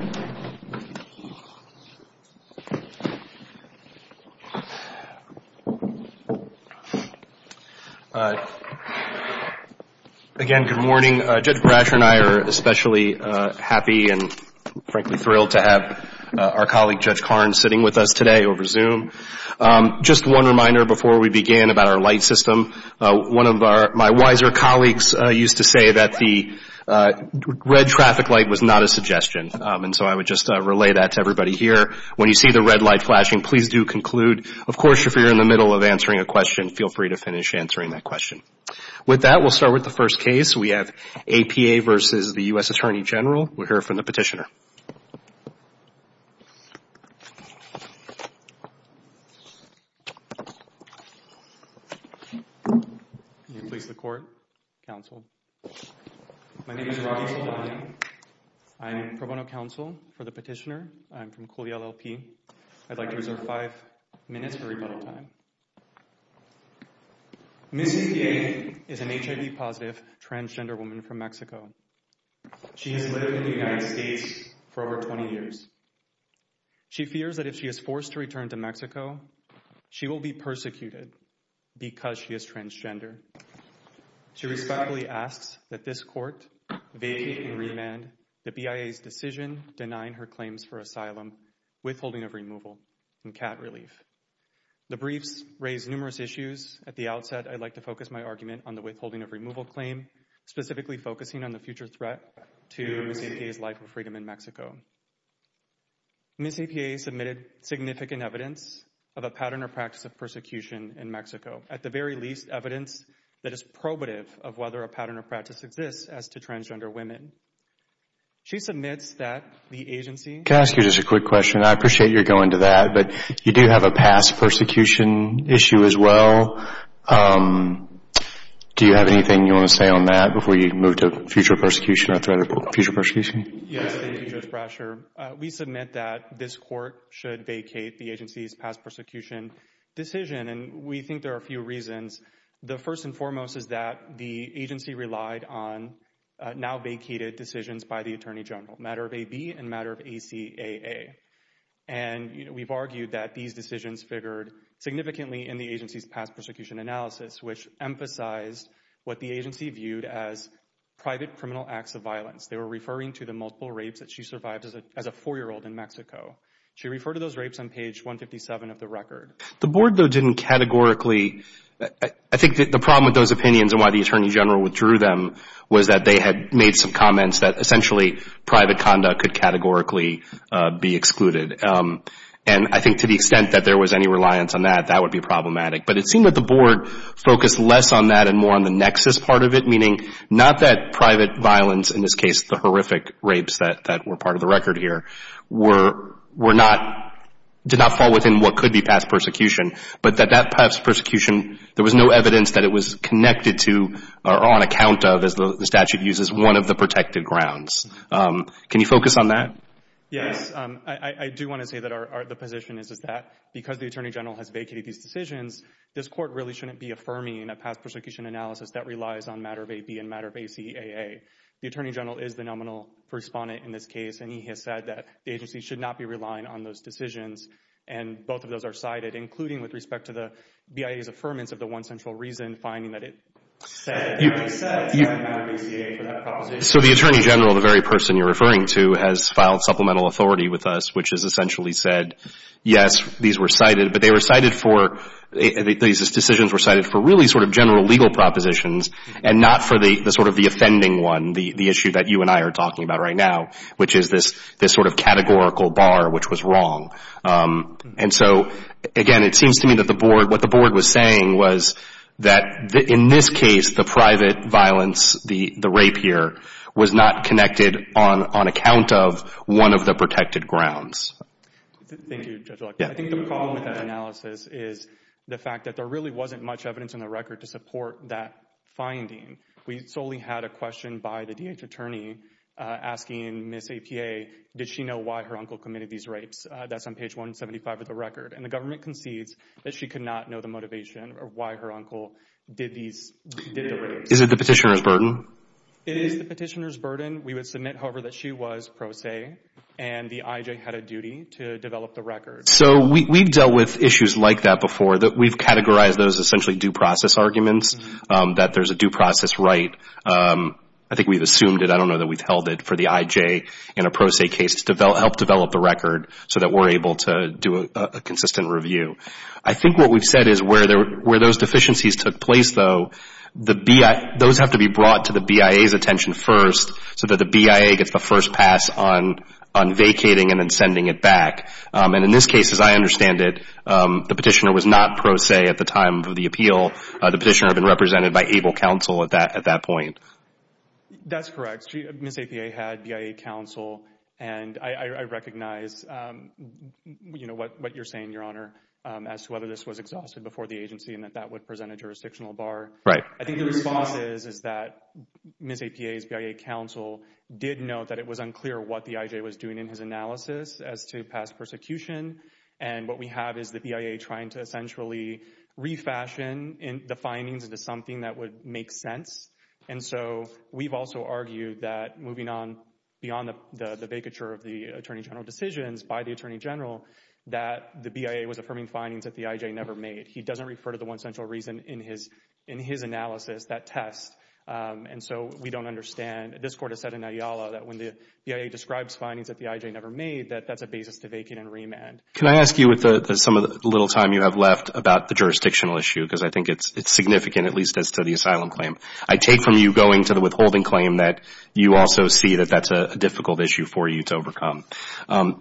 Again, good morning. Judge Brasher and I are especially happy and frankly thrilled to have our colleague Judge Karn sitting with us today over Zoom. Just one reminder before we begin about our light system. One of my wiser colleagues used to say that the red traffic light was not a suggestion and so I would just relay that to everybody here. When you see the red light flashing, please do conclude. Of course, if you're in the middle of answering a question, feel free to finish answering that question. With that, we'll start with the first case. We have A.P.A. v. U.S. Attorney General. We'll hear from the petitioner. May it please the Court, Counsel. My name is Rodney Saldana. I'm pro bono counsel for the petitioner. I'm from Cooley LLP. I'd like to reserve five minutes for rebuttal time. Ms. U.P.A. is an HIV-positive transgender woman from Mexico. She has lived in the United States for over 20 years. She fears that if she is forced to return to Mexico, she will be persecuted because she is transgender. She respectfully asks that this Court vacate and remand the BIA's decision denying her claims for asylum, withholding of removal, and cat relief. The briefs raise numerous issues. At the outset, I'd like to focus my argument on the withholding of removal claim, specifically focusing on the future threat to Ms. U.P.A.'s life and freedom in Mexico. Ms. U.P.A. submitted significant evidence of a pattern or practice of persecution in Mexico, at the very least, evidence that is probative of whether a pattern or practice exists as to transgender women. She submits that the agency... Can I ask you just a quick question? I appreciate you're going to that, but you do have a past persecution issue as well. Do you have anything you want to say on that before you move to future persecution or threat of future persecution? Yes, thank you, Judge Brasher. We submit that this Court should vacate the agency's past persecution decision, and we think there are a few reasons. The first and foremost is that the agency relied on now vacated decisions by the Attorney General, matter of AB and matter of ACAA. And we've argued that these decisions figured significantly in the agency's past persecution analysis, which emphasized what the agency viewed as private criminal acts of violence. They were referring to the multiple rapes that she survived as a four-year-old in Mexico. She referred to those rapes on page 157 of the record. The Board, though, didn't categorically... I think the problem with those opinions and why the Attorney General withdrew them was that they had made some comments that essentially private conduct could categorically be excluded. And I think to the extent that there was any reliance on that, that would be problematic. But it seemed that the Board focused less on that and more on the nexus part of it, meaning not that private violence, in this case the horrific rapes that were part of the record here, did not fall within what could be past persecution, but that that past persecution, there was no evidence that it was connected to or on account of, as the statute uses, one of the protected grounds. Can you focus on that? Yes. I do want to say that the position is that because the Attorney General has vacated these decisions, this Court really shouldn't be affirming a past persecution analysis that relies on matter of AB and matter of ACAA. The Attorney General is the nominal respondent in this case, and he has said that the agency should not be relying on those decisions. And both of those are cited, including with respect to the BIA's affirmance of the one central reason, finding that it said matter of ACAA for that proposition. So the Attorney General, the very person you're referring to, has filed supplemental authority with us, which has essentially said, yes, these were cited, but these decisions were cited for really sort of general legal propositions and not for the sort of the offending one, the issue that you and I are talking about right now, which is this sort of categorical bar which was wrong. And so, again, it seems to me that the Board, what the Board was saying was that in this case, the private violence, the rape here, was not connected on account of one of the protected grounds. Thank you, Judge Luck. I think the problem with that analysis is the fact that there really wasn't much evidence in the record to support that finding. We solely had a question by the D.H. Attorney asking Ms. APA, did she know why her uncle committed these rapes? That's on page 175 of the record. And the government concedes that she could not know the motivation or why her uncle did these, did the rapes. Is it the petitioner's burden? It is the petitioner's burden. We would submit, however, that she was pro se and the I.J. had a duty to develop the record. So we've dealt with issues like that before, that we've categorized those essentially due process arguments, that there's a due process right. I think we've assumed it, I don't know that we've held it, for the I.J. in a pro se case to help develop the record so that we're able to do a consistent review. I think what we've said is where those deficiencies took place, though, the BIA, those have to be brought to the BIA's attention first so that the BIA gets the first pass on vacating and then sending it back. And in this case, as I understand it, the petitioner was not pro se at the time of the appeal. The petitioner had been represented by ABLE counsel at that point. That's correct. Ms. APA had BIA counsel. And I recognize, you know, what you're saying, Your Honor, as to whether this was exhausted before the agency and that that would present a jurisdictional bar. I think the response is that Ms. APA's BIA counsel did note that it was unclear what the I.J. was doing in his analysis as to past persecution. And what we have is the BIA trying to essentially refashion the findings into something that would make sense. And so we've also argued that moving on beyond the vacature of the Attorney General decisions by the Attorney General, that the BIA was affirming findings that the I.J. never made. He doesn't refer to the one central reason in his analysis, that test. And so we don't understand. This Court has said in Ayala that when the BIA describes findings that the I.J. never made, that that's a basis to vacate and remand. Can I ask you with some of the little time you have left about the jurisdictional issue, because I think it's significant, at least as to the asylum claim. I take from you going to the withholding claim that you also see that that's a difficult issue for you to overcome.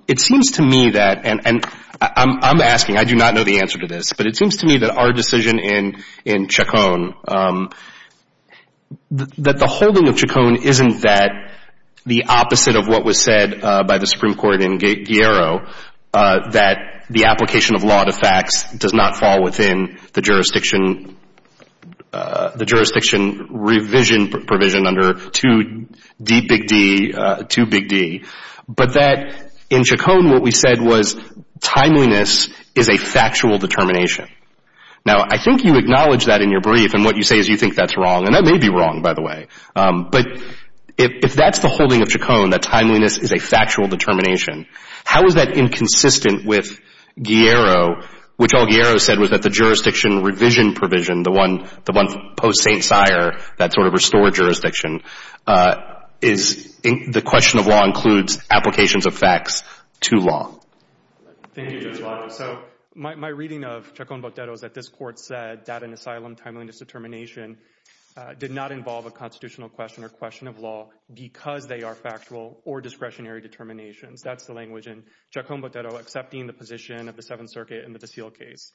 It seems to me that, and I'm asking, I do not know the answer to this, but it seems to me that our decision in Chacon, that the holding of Chacon isn't that the opposite of what was said by the Supreme Court in Guerrero, that the application of law to facts does not fall within the jurisdiction revision provision under 2D, big D, 2 big D, but that in Chacon, what we said was timeliness is a factual determination. Now, I think you acknowledge that in your brief, and what you say is you think that's wrong, and that may be wrong, by the way. But if that's the holding of Chacon, that timeliness is a factual determination, how is that inconsistent with Guerrero, which all Guerrero said was that the jurisdiction revision provision, the one post St. Sire, that sort of restored jurisdiction, the question of law includes applications of facts to law? Thank you, Judge Watt. So my reading of Chacon-Botero is that this court said that an asylum timeliness determination did not involve a constitutional question or question of law because they are factual or discretionary determinations. That's the language in Chacon-Botero accepting the position of the Seventh Circuit in the De Sille case.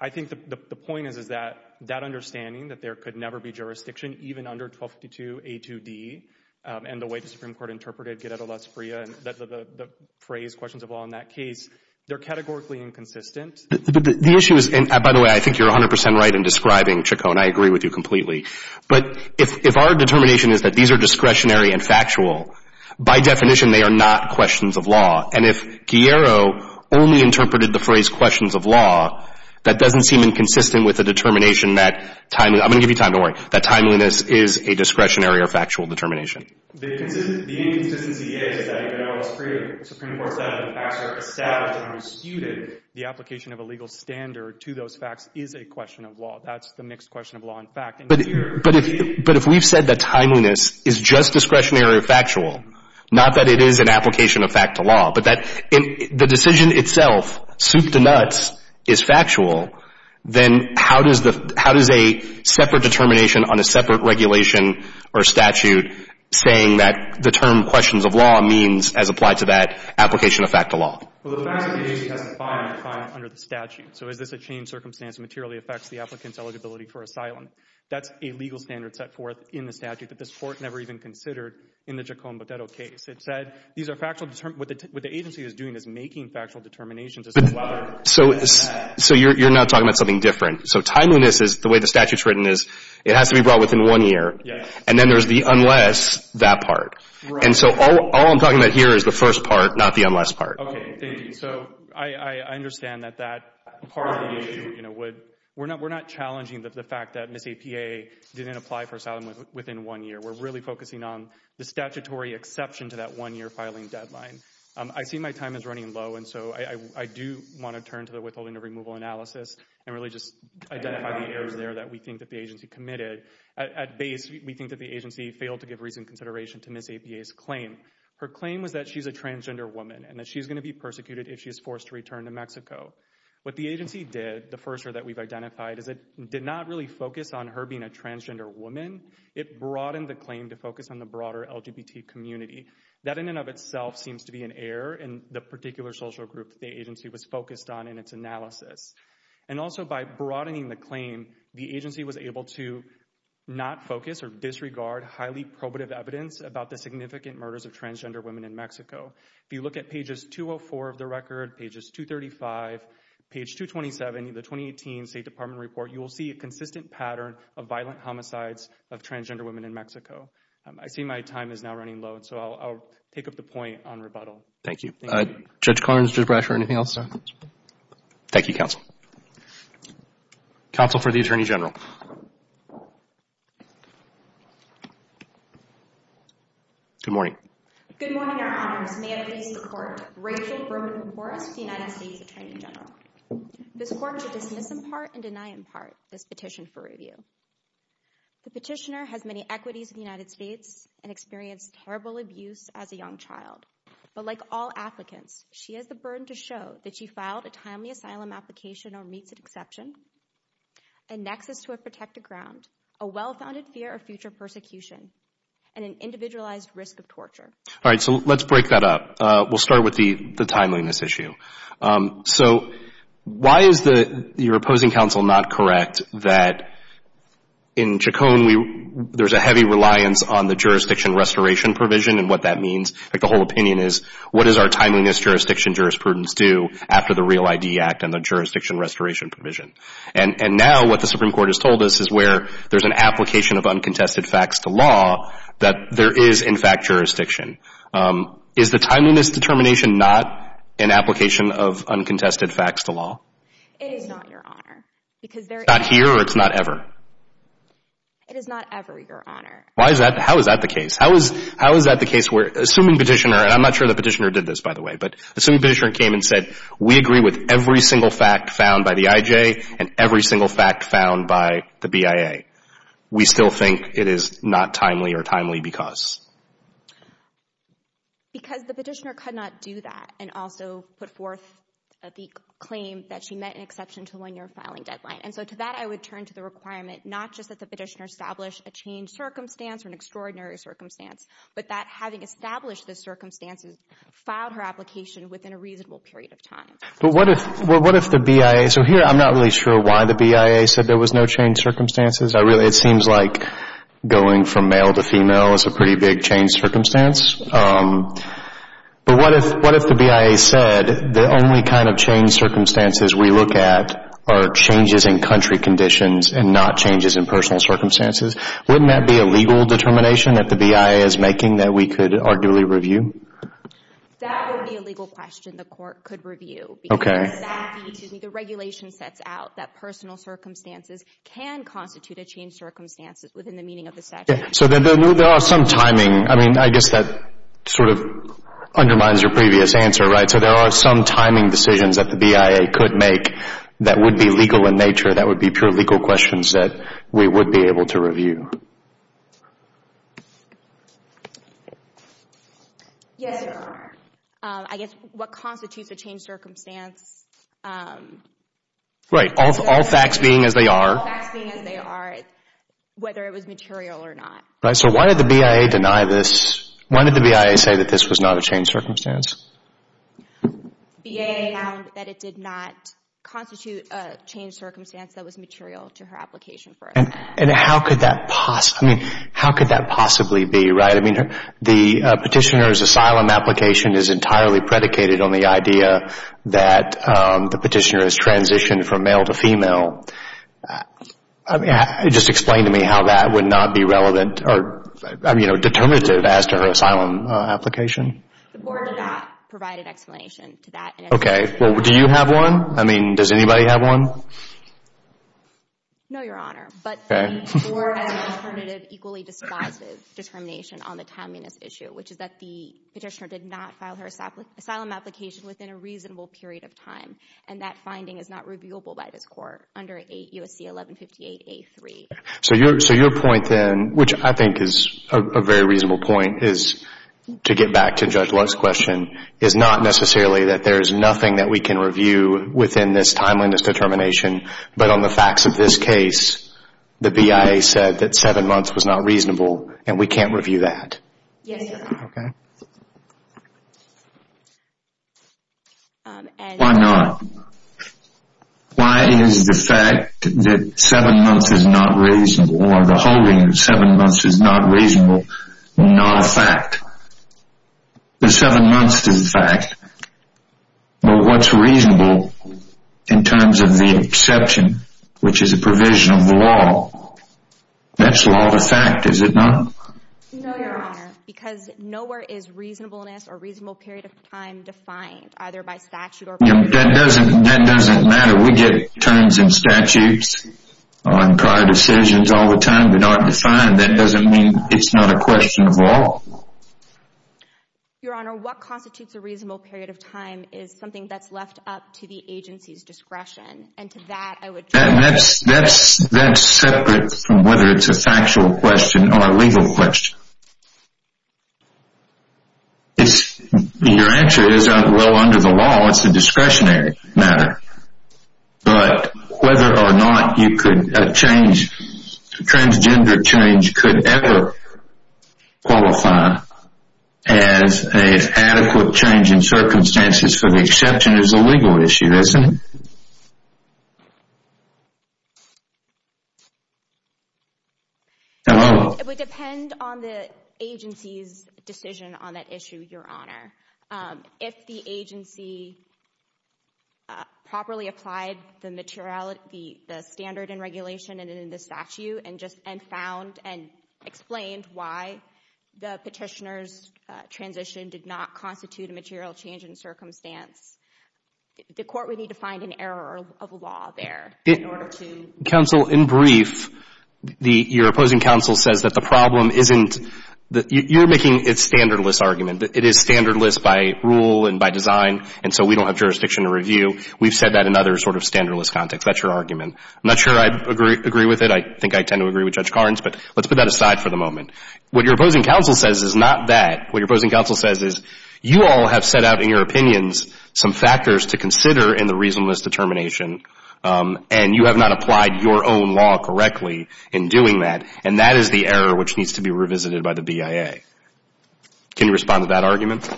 I think the point is that that would never be jurisdiction, even under 1252A2D, and the way the Supreme Court interpreted Guerrero-Lazaprilla, the phrase questions of law in that case, they're categorically inconsistent. The issue is, and by the way, I think you're 100 percent right in describing Chacon. I agree with you completely. But if our determination is that these are discretionary and factual, by definition they are not questions of law. And if Guerrero only interpreted the phrase questions of law, that doesn't seem inconsistent with the determination that timing, I'm going to give you time, don't worry, that timeliness is a discretionary or factual determination. The inconsistency is that even though the Supreme Court said that the facts are established and disputed, the application of a legal standard to those facts is a question of law. That's the mixed question of law and fact. But if we've said that timeliness is just discretionary or factual, not that it is an application of fact to law, but that the decision itself, soup to nuts, is factual, then how does a separate determination on a separate regulation or statute saying that the term questions of law means, as applied to that application of fact to law? Well, the facts of the agency has a fine under the statute. So is this a changed circumstance materially affects the applicant's eligibility for asylum? That's a legal standard set forth in the statute that this Court never even considered in the Chacon-Botedo case. It said these are factual — what the agency is doing is making factual determinations as a matter of fact. So you're not talking about something different. So timeliness is the way the statute is written is it has to be brought within one year. And then there's the unless that part. And so all I'm talking about here is the first part, not the unless part. Okay. Thank you. So I understand that that part of the issue would — we're not challenging the fact that Ms. APA didn't apply for asylum within one year. We're really focusing on the statutory exception to that one-year filing deadline. I see my time is running low, and so I do want to turn to the withholding of removal analysis and really just identify the errors there that we think that the agency committed. At base, we think that the agency failed to give reasoned consideration to Ms. APA's claim. Her claim was that she's a transgender woman and that she's going to be persecuted if she is forced to return to Mexico. What the agency did, the first error that we've identified, is it did not really focus on her being a transgender woman. It broadened the claim to focus on the broader LGBT community. That in and of itself seems to be an error in the particular social group the agency was focused on in its analysis. And also by broadening the claim, the agency was able to not focus or disregard highly probative evidence about the significant murders of transgender women in Mexico. If you look at pages 204 of the record, pages 235, page 227 of the 2018 State Department report, you will see a consistent pattern of violent homicides of transgender women in Mexico. I see my time is now running low, so I'll take up the point on rebuttal. Thank you. Judge Karnes, Judge Brasher, anything else? Thank you, counsel. Counsel for the Attorney General. Good morning. Good morning, Your Honors. May it please the Court. Rachel Berman-Forest, United States Attorney General. This Court shall dismiss in part and deny in part this petition for review. The petitioner has many equities in the United States and experienced terrible abuse as a young child. But like all applicants, she has the burden to show that she filed a timely asylum application or meets an exception, a nexus to a protected ground, a well-founded fear of future persecution, and an individualized risk of torture. All right, so let's break that up. We'll start with the timeliness issue. So why is your opposing counsel not correct that in Chacon, there's a heavy reliance on the jurisdiction restoration provision and what that means? The whole opinion is, what does our timeliness jurisdiction jurisprudence do after the REAL ID Act and the jurisdiction restoration provision? And now what the Supreme Court has told us is where there's an application of uncontested facts to law that there is, in fact, jurisdiction. Is the timeliness determination not an application of uncontested facts to law? It is not, Your Honor, because there is. It's not here or it's not ever? It is not ever, Your Honor. Why is that? How is that the case? How is that the case where, assuming petitioner, and I'm not sure the petitioner did this, by the way, but assuming petitioner came and said, we agree with every single fact found by the IJ and every single fact found by the BIA, we still think it is not timely or timely because? Because the petitioner could not do that and also put forth the claim that she met an exception to one-year filing deadline. And so to that, I would turn to the requirement not just that the petitioner established a changed circumstance or an extraordinary circumstance, but that having established the circumstances, filed her application within a reasonable period of time. But what if the BIA, so here I'm not really sure why the BIA said there was no changed circumstances. It seems like going from male to female is a pretty big changed circumstance. But what if the BIA said the only kind of changed circumstances we look at are changes in country conditions and not changes in personal circumstances? Wouldn't that be a legal determination that the BIA is making that we could arguably review? That would be a legal question the Court could review. Okay. Because that would be, the regulation sets out that personal circumstances can constitute a changed circumstance within the meaning of the statute. So there are some timing, I mean, I guess that sort of undermines your previous answer, right? So there are some timing decisions that the BIA could make that would be legal in nature, that would be pure legal questions that we would be able to review. Yes, there are. I guess what constitutes a changed circumstance, whether it was material or not. Right, so why did the BIA deny this? Why did the BIA say that this was not a changed circumstance? BIA found that it did not constitute a changed circumstance that was material to her application for asylum. And how could that possibly, I mean, how could that possibly be, right? I mean, the petitioner's asylum application is entirely predicated on the idea that the petitioner has transitioned from male to female. I mean, just explain to me how that would not be relevant or, you know, determinative as to her asylum application. The Board of that provided explanation to that in its decision. Okay. Well, do you have one? I mean, does anybody have one? No, Your Honor. Okay. But the Board has an alternative, equally dispositive determination on the timeliness issue, which is that the petitioner did not file her asylum application within a reasonable period of time. And that finding is not reviewable by this court under USC 1158A3. So your point then, which I think is a very reasonable point, is to get back to Judge Lutz's question, is not necessarily that there is nothing that we can review within this timeliness determination, but on the facts of this case, the BIA said that seven months was not reasonable and we Why not? Why is the fact that seven months is not reasonable or the holding of seven months is not reasonable, not a fact? The seven months is a fact. But what's reasonable in terms of the exception, which is a provision of the law, that's law of the fact, is it not? No, Your Honor, because nowhere is reasonableness or reasonable period of time defined, either by statute or provision. That doesn't matter. We get terms and statutes on prior decisions all the time. They're not defined. That doesn't mean it's not a question of law. Your Honor, what constitutes a reasonable period of time is something that's left up to the agency's discretion. And to that, I would That's separate from whether it's a factual question or a law, it's a discretionary matter. But whether or not you could change, transgender change could ever qualify as an adequate change in circumstances for the exception is a legal issue, isn't it? It would depend on the agency's decision on that issue, Your Honor. If the agency properly applied the materiality, the standard and regulation and in the statute and just and found and explained why the petitioner's transition did not constitute a material change in circumstance, the Court would need to find an error of law there in order to Counsel, in brief, your opposing counsel says that the problem isn't that you're making a standardless argument. It is standardless by rule and by design, and so we don't have jurisdiction to review. We've said that in other sort of standardless contexts. That's your argument. I'm not sure I agree with it. I think I tend to agree with Judge Carnes, but let's put that aside for the moment. What your opposing counsel says is not that. What your opposing counsel says is you all have set out in your opinions some factors to consider in the reasonableness determination, and you have not applied your own law correctly in doing that, and that is the error which needs to be revisited by the BIA. Can you respond to that argument?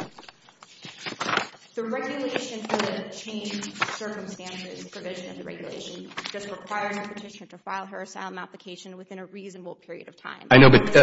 The regulation for the change of circumstances provision of the regulation just requires the petitioner to file her asylum application within a reasonable period of time. I know, but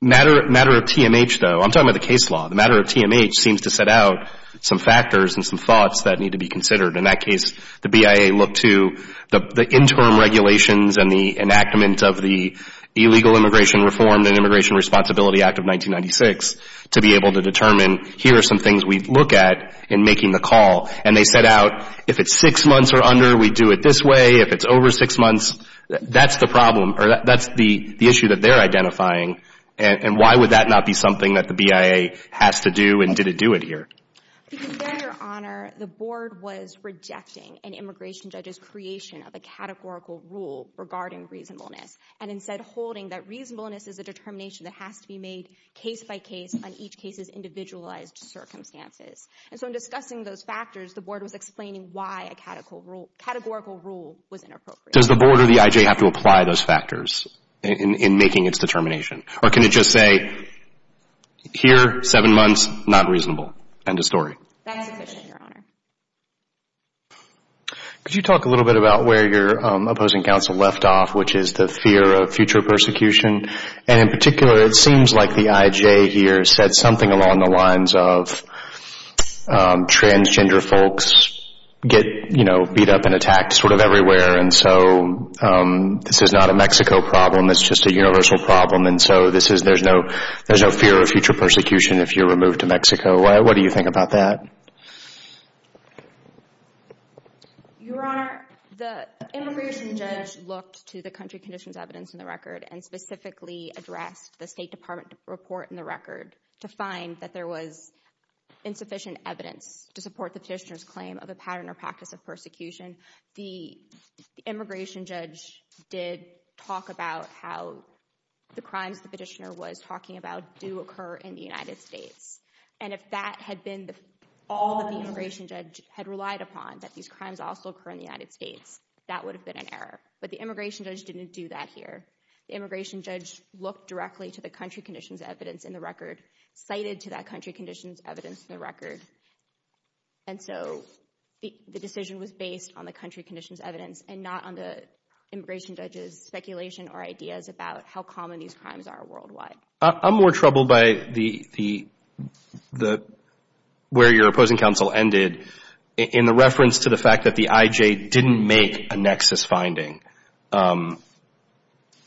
matter of TMH, though, I'm talking about the case law. The matter of TMH seems to set out some factors and some thoughts that need to be considered. In that case, the BIA looked to the interim regulations and the enactment of the Illegal Immigration Reform and Immigration Responsibility Act of 1996 to be able to determine here are some things we look at in making the call, and they set out if it's six months or under, we do it this way, if it's over six months, that's the problem, or that's the issue that they're identifying, and why would that not be something that the BIA has to do, and did it do it here? Because there, Your Honor, the Board was rejecting an immigration judge's creation of a categorical rule regarding reasonableness, and instead holding that reasonableness is a determination that has to be made case by case on each case's individualized circumstances. And so in discussing those factors, the Board was explaining why a categorical rule was inappropriate. Does the Board or the IJ have to apply those factors in making its determination? Or can it just say, here, seven months, not reasonable, end of story? That's sufficient, Your Honor. Could you talk a little bit about where your opposing counsel left off, which is the fear of future persecution? And in particular, it seems like the IJ here said something along the lines of transgender folks get beat up and attacked everywhere, and so this is not a Mexico problem, it's just a universal problem, and so there's no fear of future persecution if you're removed to Mexico. What do you think about that? Your Honor, the immigration judge looked to the country conditions evidence in the record, and specifically addressed the State Department report in the record to find that there was insufficient evidence to support the petitioner's claim of a pattern or practice of persecution. The immigration judge did talk about how the crimes the petitioner was talking about do occur in the United States, and if that had been all that the immigration judge had relied upon, that these crimes also occur in the United States, that would have been an error. But the immigration judge didn't do that here. The immigration judge looked directly to the country conditions evidence in the record, cited to that country conditions evidence in the record, and so the decision was based on the country conditions evidence and not on the immigration judge's speculation or ideas about how common these crimes are worldwide. I'm more troubled by where your opposing counsel ended in the reference to the fact that the IJ didn't make a nexus finding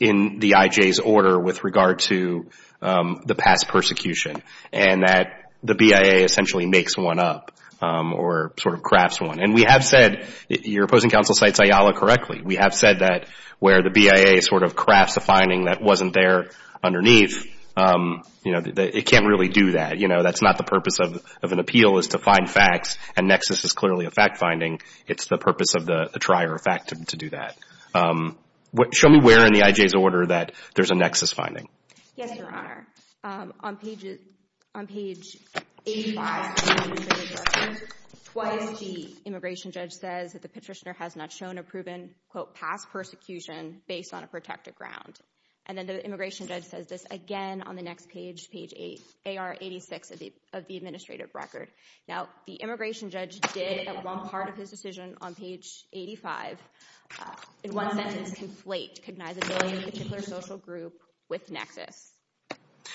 in the IJ's order with regard to the past persecution, and that the BIA essentially makes one up or sort of crafts one. And we have said, your opposing counsel cites Ayala correctly, we have said that where the BIA sort of crafts a finding that wasn't there underneath, it can't really do that. That's not the purpose of an appeal is to find facts, and nexus is clearly a fact finding. It's the purpose of the trier of fact to do that. Show me where in the IJ's order that there's a nexus finding. Yes, your Honor. On page 85 of the administrative record, twice the immigration judge says that the patricianer has not shown a proven, quote, past persecution based on a protected ground. And then the immigration judge says this again on the next page, page 8, AR 86 of the administrative record. Now, the immigration judge did at one part of his decision on page 85, in one sentence, conflate cognizability of a particular social group with nexus.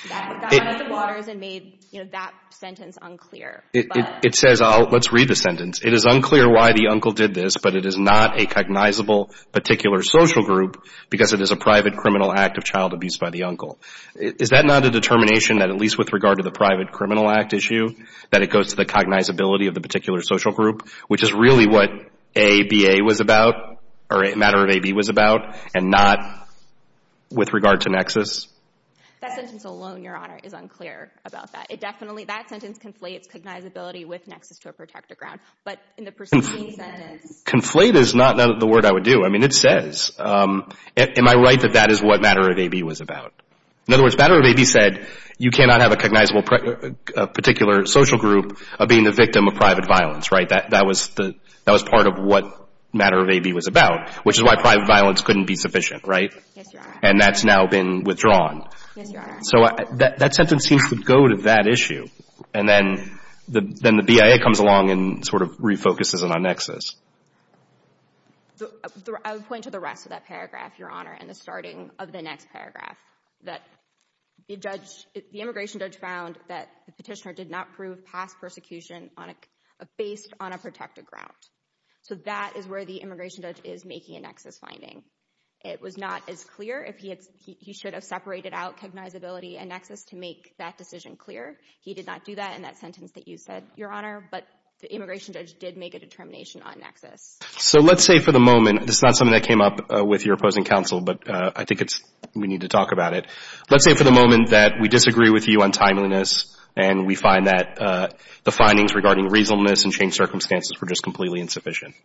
That got out of the waters and made, you know, that sentence unclear. It says, let's read the sentence. It is unclear why the uncle did this, but it is not a cognizable particular social group because it is a private criminal act of child abuse by the uncle. Is that not a determination that at least with regard to the private criminal act issue, that it goes to the cognizability of the particular social group, which is really what ABA was about, or matter of AB was about, and not with regard to nexus? That sentence alone, your Honor, is unclear about that. It definitely, that sentence conflates cognizability with nexus to a protected ground. But in the preceding sentence. Conflate is not the word I would do. I mean, it says. Am I right that that is what matter of AB was about? In other words, matter of AB said you cannot have a cognizable particular social group of being the victim of private violence, right? That was part of what matter of AB was about, which is why private violence couldn't be sufficient, right? Yes, your Honor. And that's now been withdrawn. Yes, your Honor. So that sentence seems to go to that issue. And then the BIA comes along and sort of refocuses it on nexus. I would point to the rest of that paragraph, your Honor, in the starting of the next paragraph, that the judge, the immigration judge found that the petitioner did not prove past persecution on a, based on a protected ground. So that is where the immigration judge is making a nexus finding. It was not as clear if he had, he should have separated out cognizability and nexus to make that decision clear. He did not do that in that sentence that you said, your Honor. But the immigration judge did make a determination on nexus. So let's say for the moment, this is not something that came up with your opposing counsel, but I think it's, we need to talk about it. Let's say for the moment that we disagree with you on timeliness and we find that the findings regarding reasonableness and changed circumstances were just completely insufficient.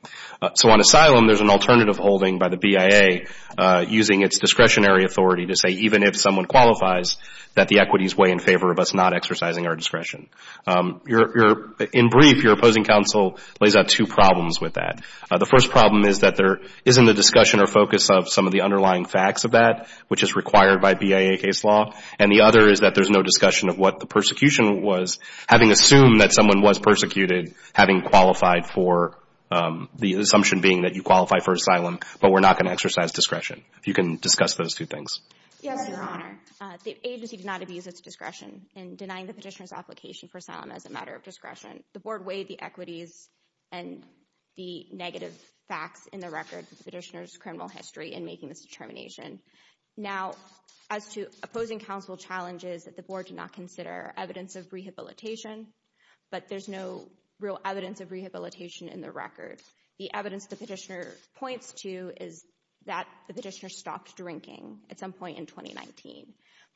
So on asylum, there's an alternative holding by the BIA using its discretionary authority to say even if someone qualifies that the equities weigh in favor of us not exercising our discretion. In brief, your opposing counsel lays out two problems with that. The first problem is that there isn't a discussion or focus of some of the underlying facts of that, which is required by BIA case law. And the other is that there's no discussion of what the persecution was, having assumed that someone was persecuted, having qualified for the assumption being that you qualify for asylum, but we're not going to exercise discretion. If you can discuss those two things. Yes, your Honor. The agency did not abuse its discretion in denying the petitioner's application for asylum as a matter of discretion. The board weighed the equities and the negative facts in the record of the petitioner's criminal history in making this determination. Now, as to opposing counsel challenges that the board did not consider evidence of rehabilitation, but there's no real evidence of rehabilitation in the record. The evidence the petitioner points to is that the petitioner stopped drinking at some point in 2019.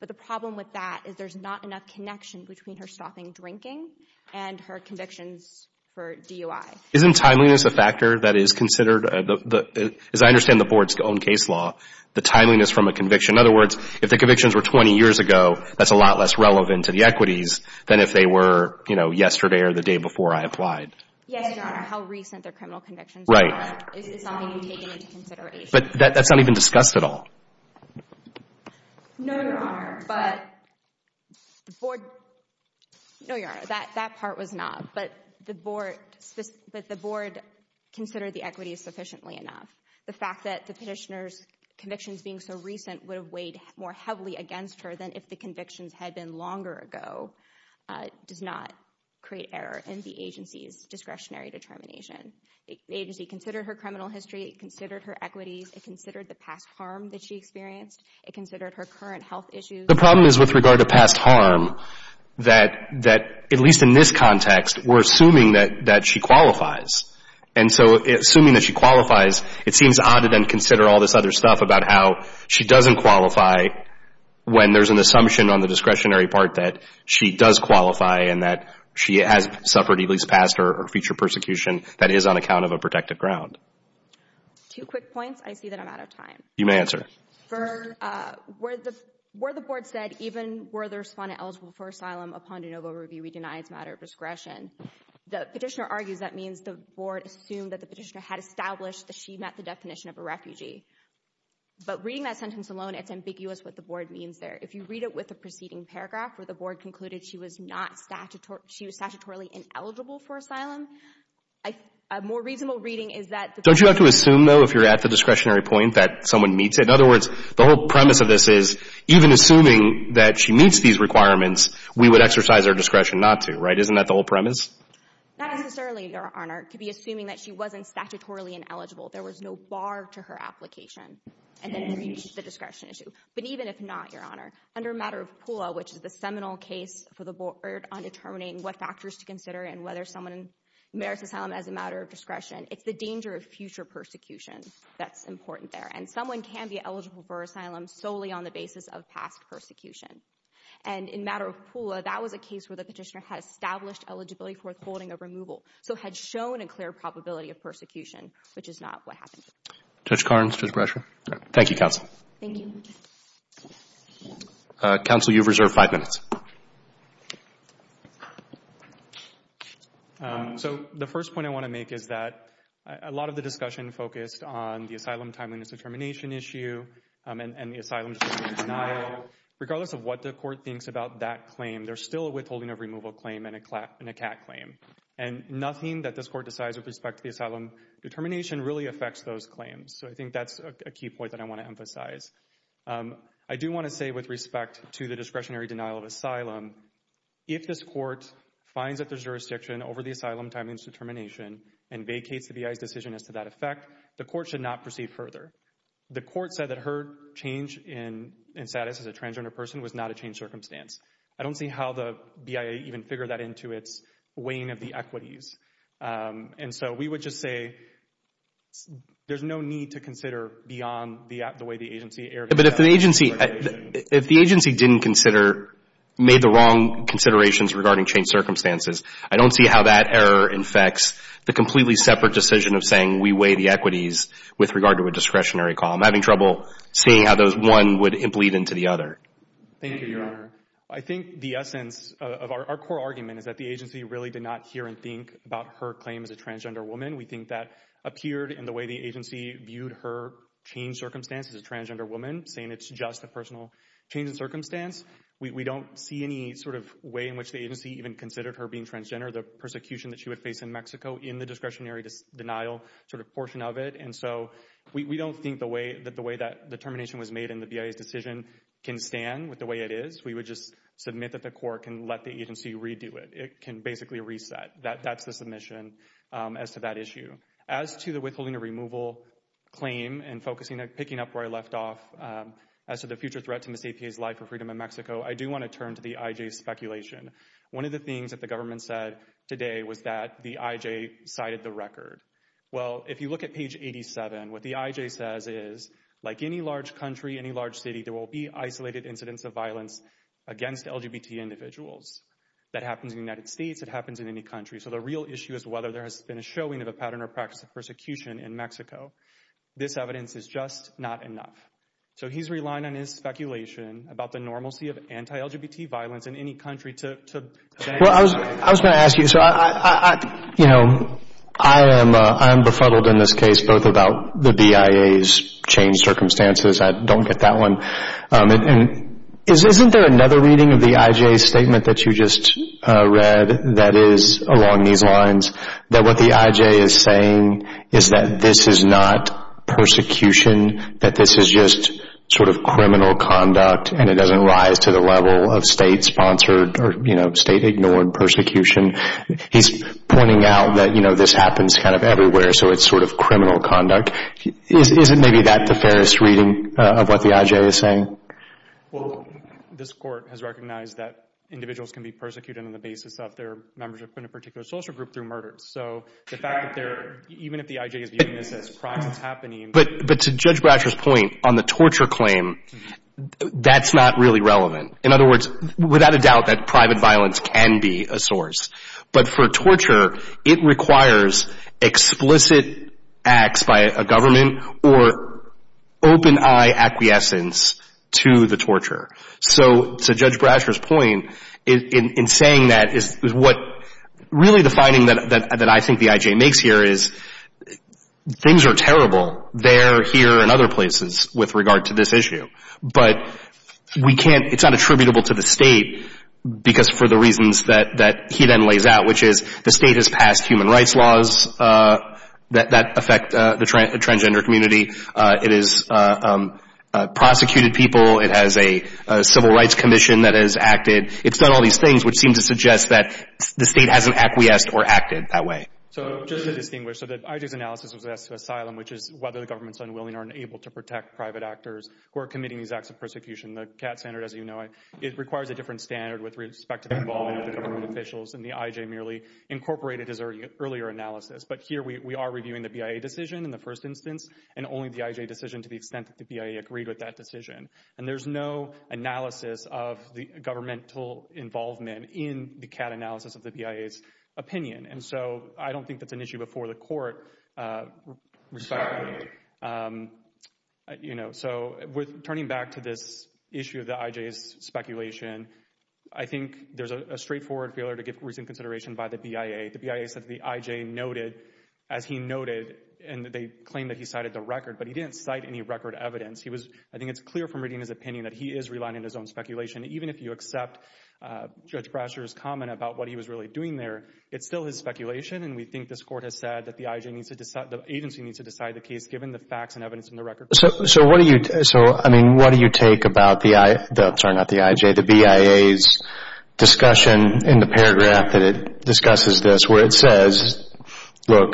But the problem with that is there's not enough connection between her stopping drinking and her convictions for DUI. Isn't timeliness a factor that is considered, as I understand the board's own case law, the timeliness from a conviction? In other words, if the convictions were 20 years ago, that's a lot less relevant to the equities than if they were, you know, yesterday or the day before I applied. Yes, your Honor. How recent their criminal convictions are is not being taken into consideration. But that's not even discussed at all. No, your Honor. But the board, no, your Honor, that part was not. But the board considered the equities sufficiently enough. The fact that the petitioner's convictions being so recent would have weighed more heavily against her than if the convictions had been longer ago does not create error in the agency's discretionary determination. The agency considered her criminal history, it considered her equities, it considered the past harm that she experienced, it considered her current health issues. The problem is with regard to past harm that, at least in this context, we're assuming that she qualifies. And so assuming that she qualifies, it seems odd to then consider all this other stuff about how she doesn't qualify when there's an assumption on the discretionary part that she does qualify and that she has suffered, at least past or future persecution, that is on account of a protected ground. Two quick points. I see that I'm out of time. You may answer. For, where the board said, even were the respondent eligible for asylum upon de novo review, we deny it's a matter of discretion. The petitioner argues that means the board assumed that the petitioner had established that she met the definition of a refugee. But reading that sentence alone, it's ambiguous what the board means there. If you read it with the preceding paragraph where the board concluded she was not statutory, she was statutorily ineligible for asylum, a more reasonable reading is that. Don't you have to assume, though, if you're at the discretionary point, that someone meets it? In other words, the whole premise of this is, even assuming that she meets these requirements, we would exercise our discretion not to, right? Isn't that the whole premise? Not necessarily, Your Honor. It could be assuming that she wasn't statutorily ineligible, there was no bar to her application, and then the discretion issue. But even if not, Your Honor, under a matter of PULA, which is the seminal case for the board on determining what factors to consider and whether someone merits asylum as a matter of discretion, it's the danger of future persecution that's important there. And someone can be eligible for asylum solely on the basis of past persecution. And in a matter of PULA, that was a case where the petitioner had established eligibility for the holding of removal, so had shown a clear probability of persecution, which is not what happened. Judge Karnes, Judge Brescher. Thank you, counsel. Thank you. Counsel, you've reserved five minutes. So the first point I want to make is that a lot of the discussion focused on the asylum timeliness determination issue and the asylum determination denial. Regardless of what the court thinks about that claim, there's still a withholding of removal claim and a CAT claim. And nothing that this court decides with respect to the asylum determination really affects those claims. I do want to say with respect to the discretionary denial of asylum, if this court finds that there's jurisdiction over the asylum timeliness determination and vacates the BIA's decision as to that effect, the court should not proceed further. The court said that her change in status as a transgender person was not a changed circumstance. I don't see how the BIA even figured that into its weighing of the equities. And so we would just say there's no need to consider beyond the way the agency erred. But if the agency didn't consider, made the wrong considerations regarding changed circumstances, I don't see how that error infects the completely separate decision of saying we weigh the equities with regard to a discretionary call. I'm having trouble seeing how one would bleed into the other. Thank you, Your Honor. I think the essence of our core argument is that the agency really did not hear and think about her claim as a transgender woman. We think that appeared in the way the agency viewed her changed circumstance as a transgender woman, saying it's just a personal change in circumstance. We don't see any sort of way in which the agency even considered her being transgender, the persecution that she would face in Mexico in the discretionary denial sort of portion of it. And so we don't think that the way that the termination was made in the BIA's decision can stand with the way it is. We would just submit that the court can let the agency redo it. It can basically reset. That's the submission as to that issue. As to the withholding of removal claim and focusing on picking up where I left off as to the future threat to Ms. APA's life or freedom in Mexico, I do want to turn to the IJ speculation. One of the things that the government said today was that the IJ cited the record. Well, if you look at page 87, what the IJ says is, like any large country, any large city, there will be isolated incidents of violence against LGBT individuals. That happens in the United States. It happens in any country. So the real issue is whether there has been a showing of a pattern or practice of persecution in Mexico. This evidence is just not enough. So he's relying on his speculation about the normalcy of anti-LGBT violence in any country to... Well, I was going to ask you. So, you know, I am befuddled in this case, both about the BIA's changed circumstances. I don't get that one. And isn't there another reading of the IJ statement that you just read that is along these lines? That what the IJ is saying is that this is not persecution, that this is just sort of criminal conduct and it doesn't rise to the level of state-sponsored or, you know, state-ignored persecution. He's pointing out that, you know, this happens kind of everywhere. So it's sort of criminal conduct. Isn't maybe that the fairest reading of what the IJ is saying? Well, this court has recognized that individuals can be persecuted on the basis of their membership in a particular social group through murder. So the fact that they're... Even if the IJ is viewing this as crime that's happening... But to Judge Brasher's point on the torture claim, that's not really relevant. In other words, without a doubt that private violence can be a source. But for torture, it requires explicit acts by a government or open-eye acquiescence to the torture. So to Judge Brasher's point, in saying that, is what really the finding that I think the IJ makes here is things are terrible there, here, and other places with regard to this issue. But we can't... It's unattributable to the state because for the reasons that he then lays out, which is the state has passed human rights laws that affect the transgender community. It has prosecuted people. It has a civil rights commission that has acted. It's done all these things which seem to suggest that the state hasn't acquiesced or acted that way. So just to distinguish, so the IJ's analysis of asylum, which is whether the government's unwilling or unable to protect private actors who are committing these acts of persecution, the CAT standard, as you know, it requires a different standard with respect to the involvement of government officials and the IJ merely incorporated this earlier analysis. But here we are reviewing the BIA decision in the first instance and only the IJ decision to the extent that the BIA agreed with that decision. There's no analysis of the governmental involvement in the CAT analysis of the BIA's opinion. And so I don't think that's an issue before the court, respectfully. So with turning back to this issue of the IJ's speculation, I think there's a straightforward failure to give recent consideration by the BIA. The BIA said the IJ noted as he noted, and they claimed that he cited the record, but he didn't cite any record evidence. I think it's clear from reading his opinion that he is relying on his own speculation. Even if you accept Judge Brasher's comment about what he was really doing there, it's still his speculation. And we think this court has said that the agency needs to decide the case given the facts and evidence in the record. So what do you take about the BIA's discussion in the paragraph that it discusses this, where it says, look,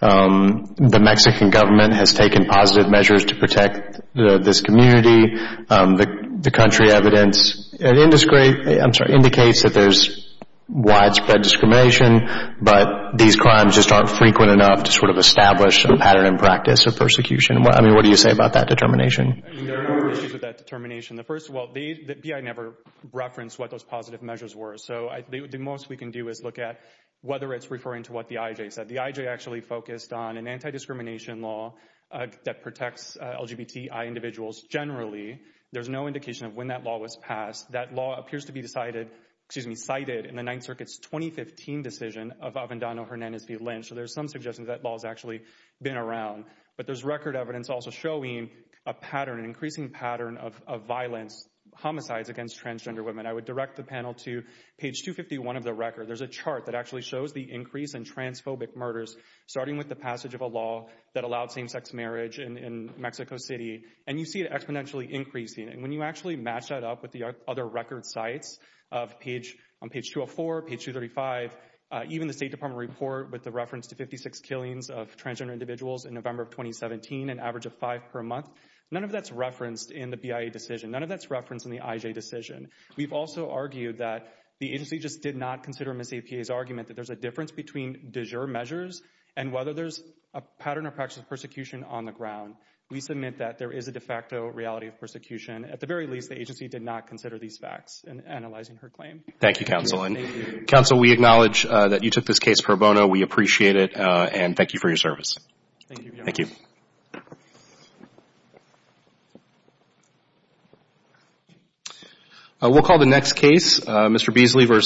the Mexican government has taken positive measures to protect this community. The country evidence indicates that there's widespread discrimination, but these crimes just aren't frequent enough to sort of establish a pattern in practice of persecution. I mean, what do you say about that determination? I mean, there are a number of issues with that determination. The first, well, the BIA never referenced what those positive measures were. So the most we can do is look at whether it's referring to what the IJ said. The IJ actually focused on an anti-discrimination law that protects LGBTI individuals. Generally, there's no indication of when that law was passed. That law appears to be decided, excuse me, cited in the Ninth Circuit's 2015 decision of Avendano Hernandez v. Lynch. So there's some suggestions that law has actually been around. But there's record evidence also showing a pattern, an increasing pattern of violence, homicides against transgender women. I would direct the panel to page 251 of the record. There's a chart that actually shows the increase in transphobic murders starting with the passage of a law that allowed same-sex marriage in Mexico City. And you see it exponentially increasing. And when you actually match that up with the other record sites on page 204, page 235, even the State Department report with the reference to 56 killings of transgender individuals in November of 2017, an average of five per month, none of that's referenced in the BIA decision. None of that's referenced in the IJ decision. We've also argued that the agency just did not consider Ms. APA's argument that there's a difference between de jure measures and whether there's a pattern or practice of persecution on the ground. We submit that there is a de facto reality of persecution. At the very least, the agency did not consider these facts in analyzing her claim. Thank you, counsel. And counsel, we acknowledge that you took this case for a bono. We appreciate it. And thank you for your service. Thank you. We'll call the next case, Mr. Beasley v.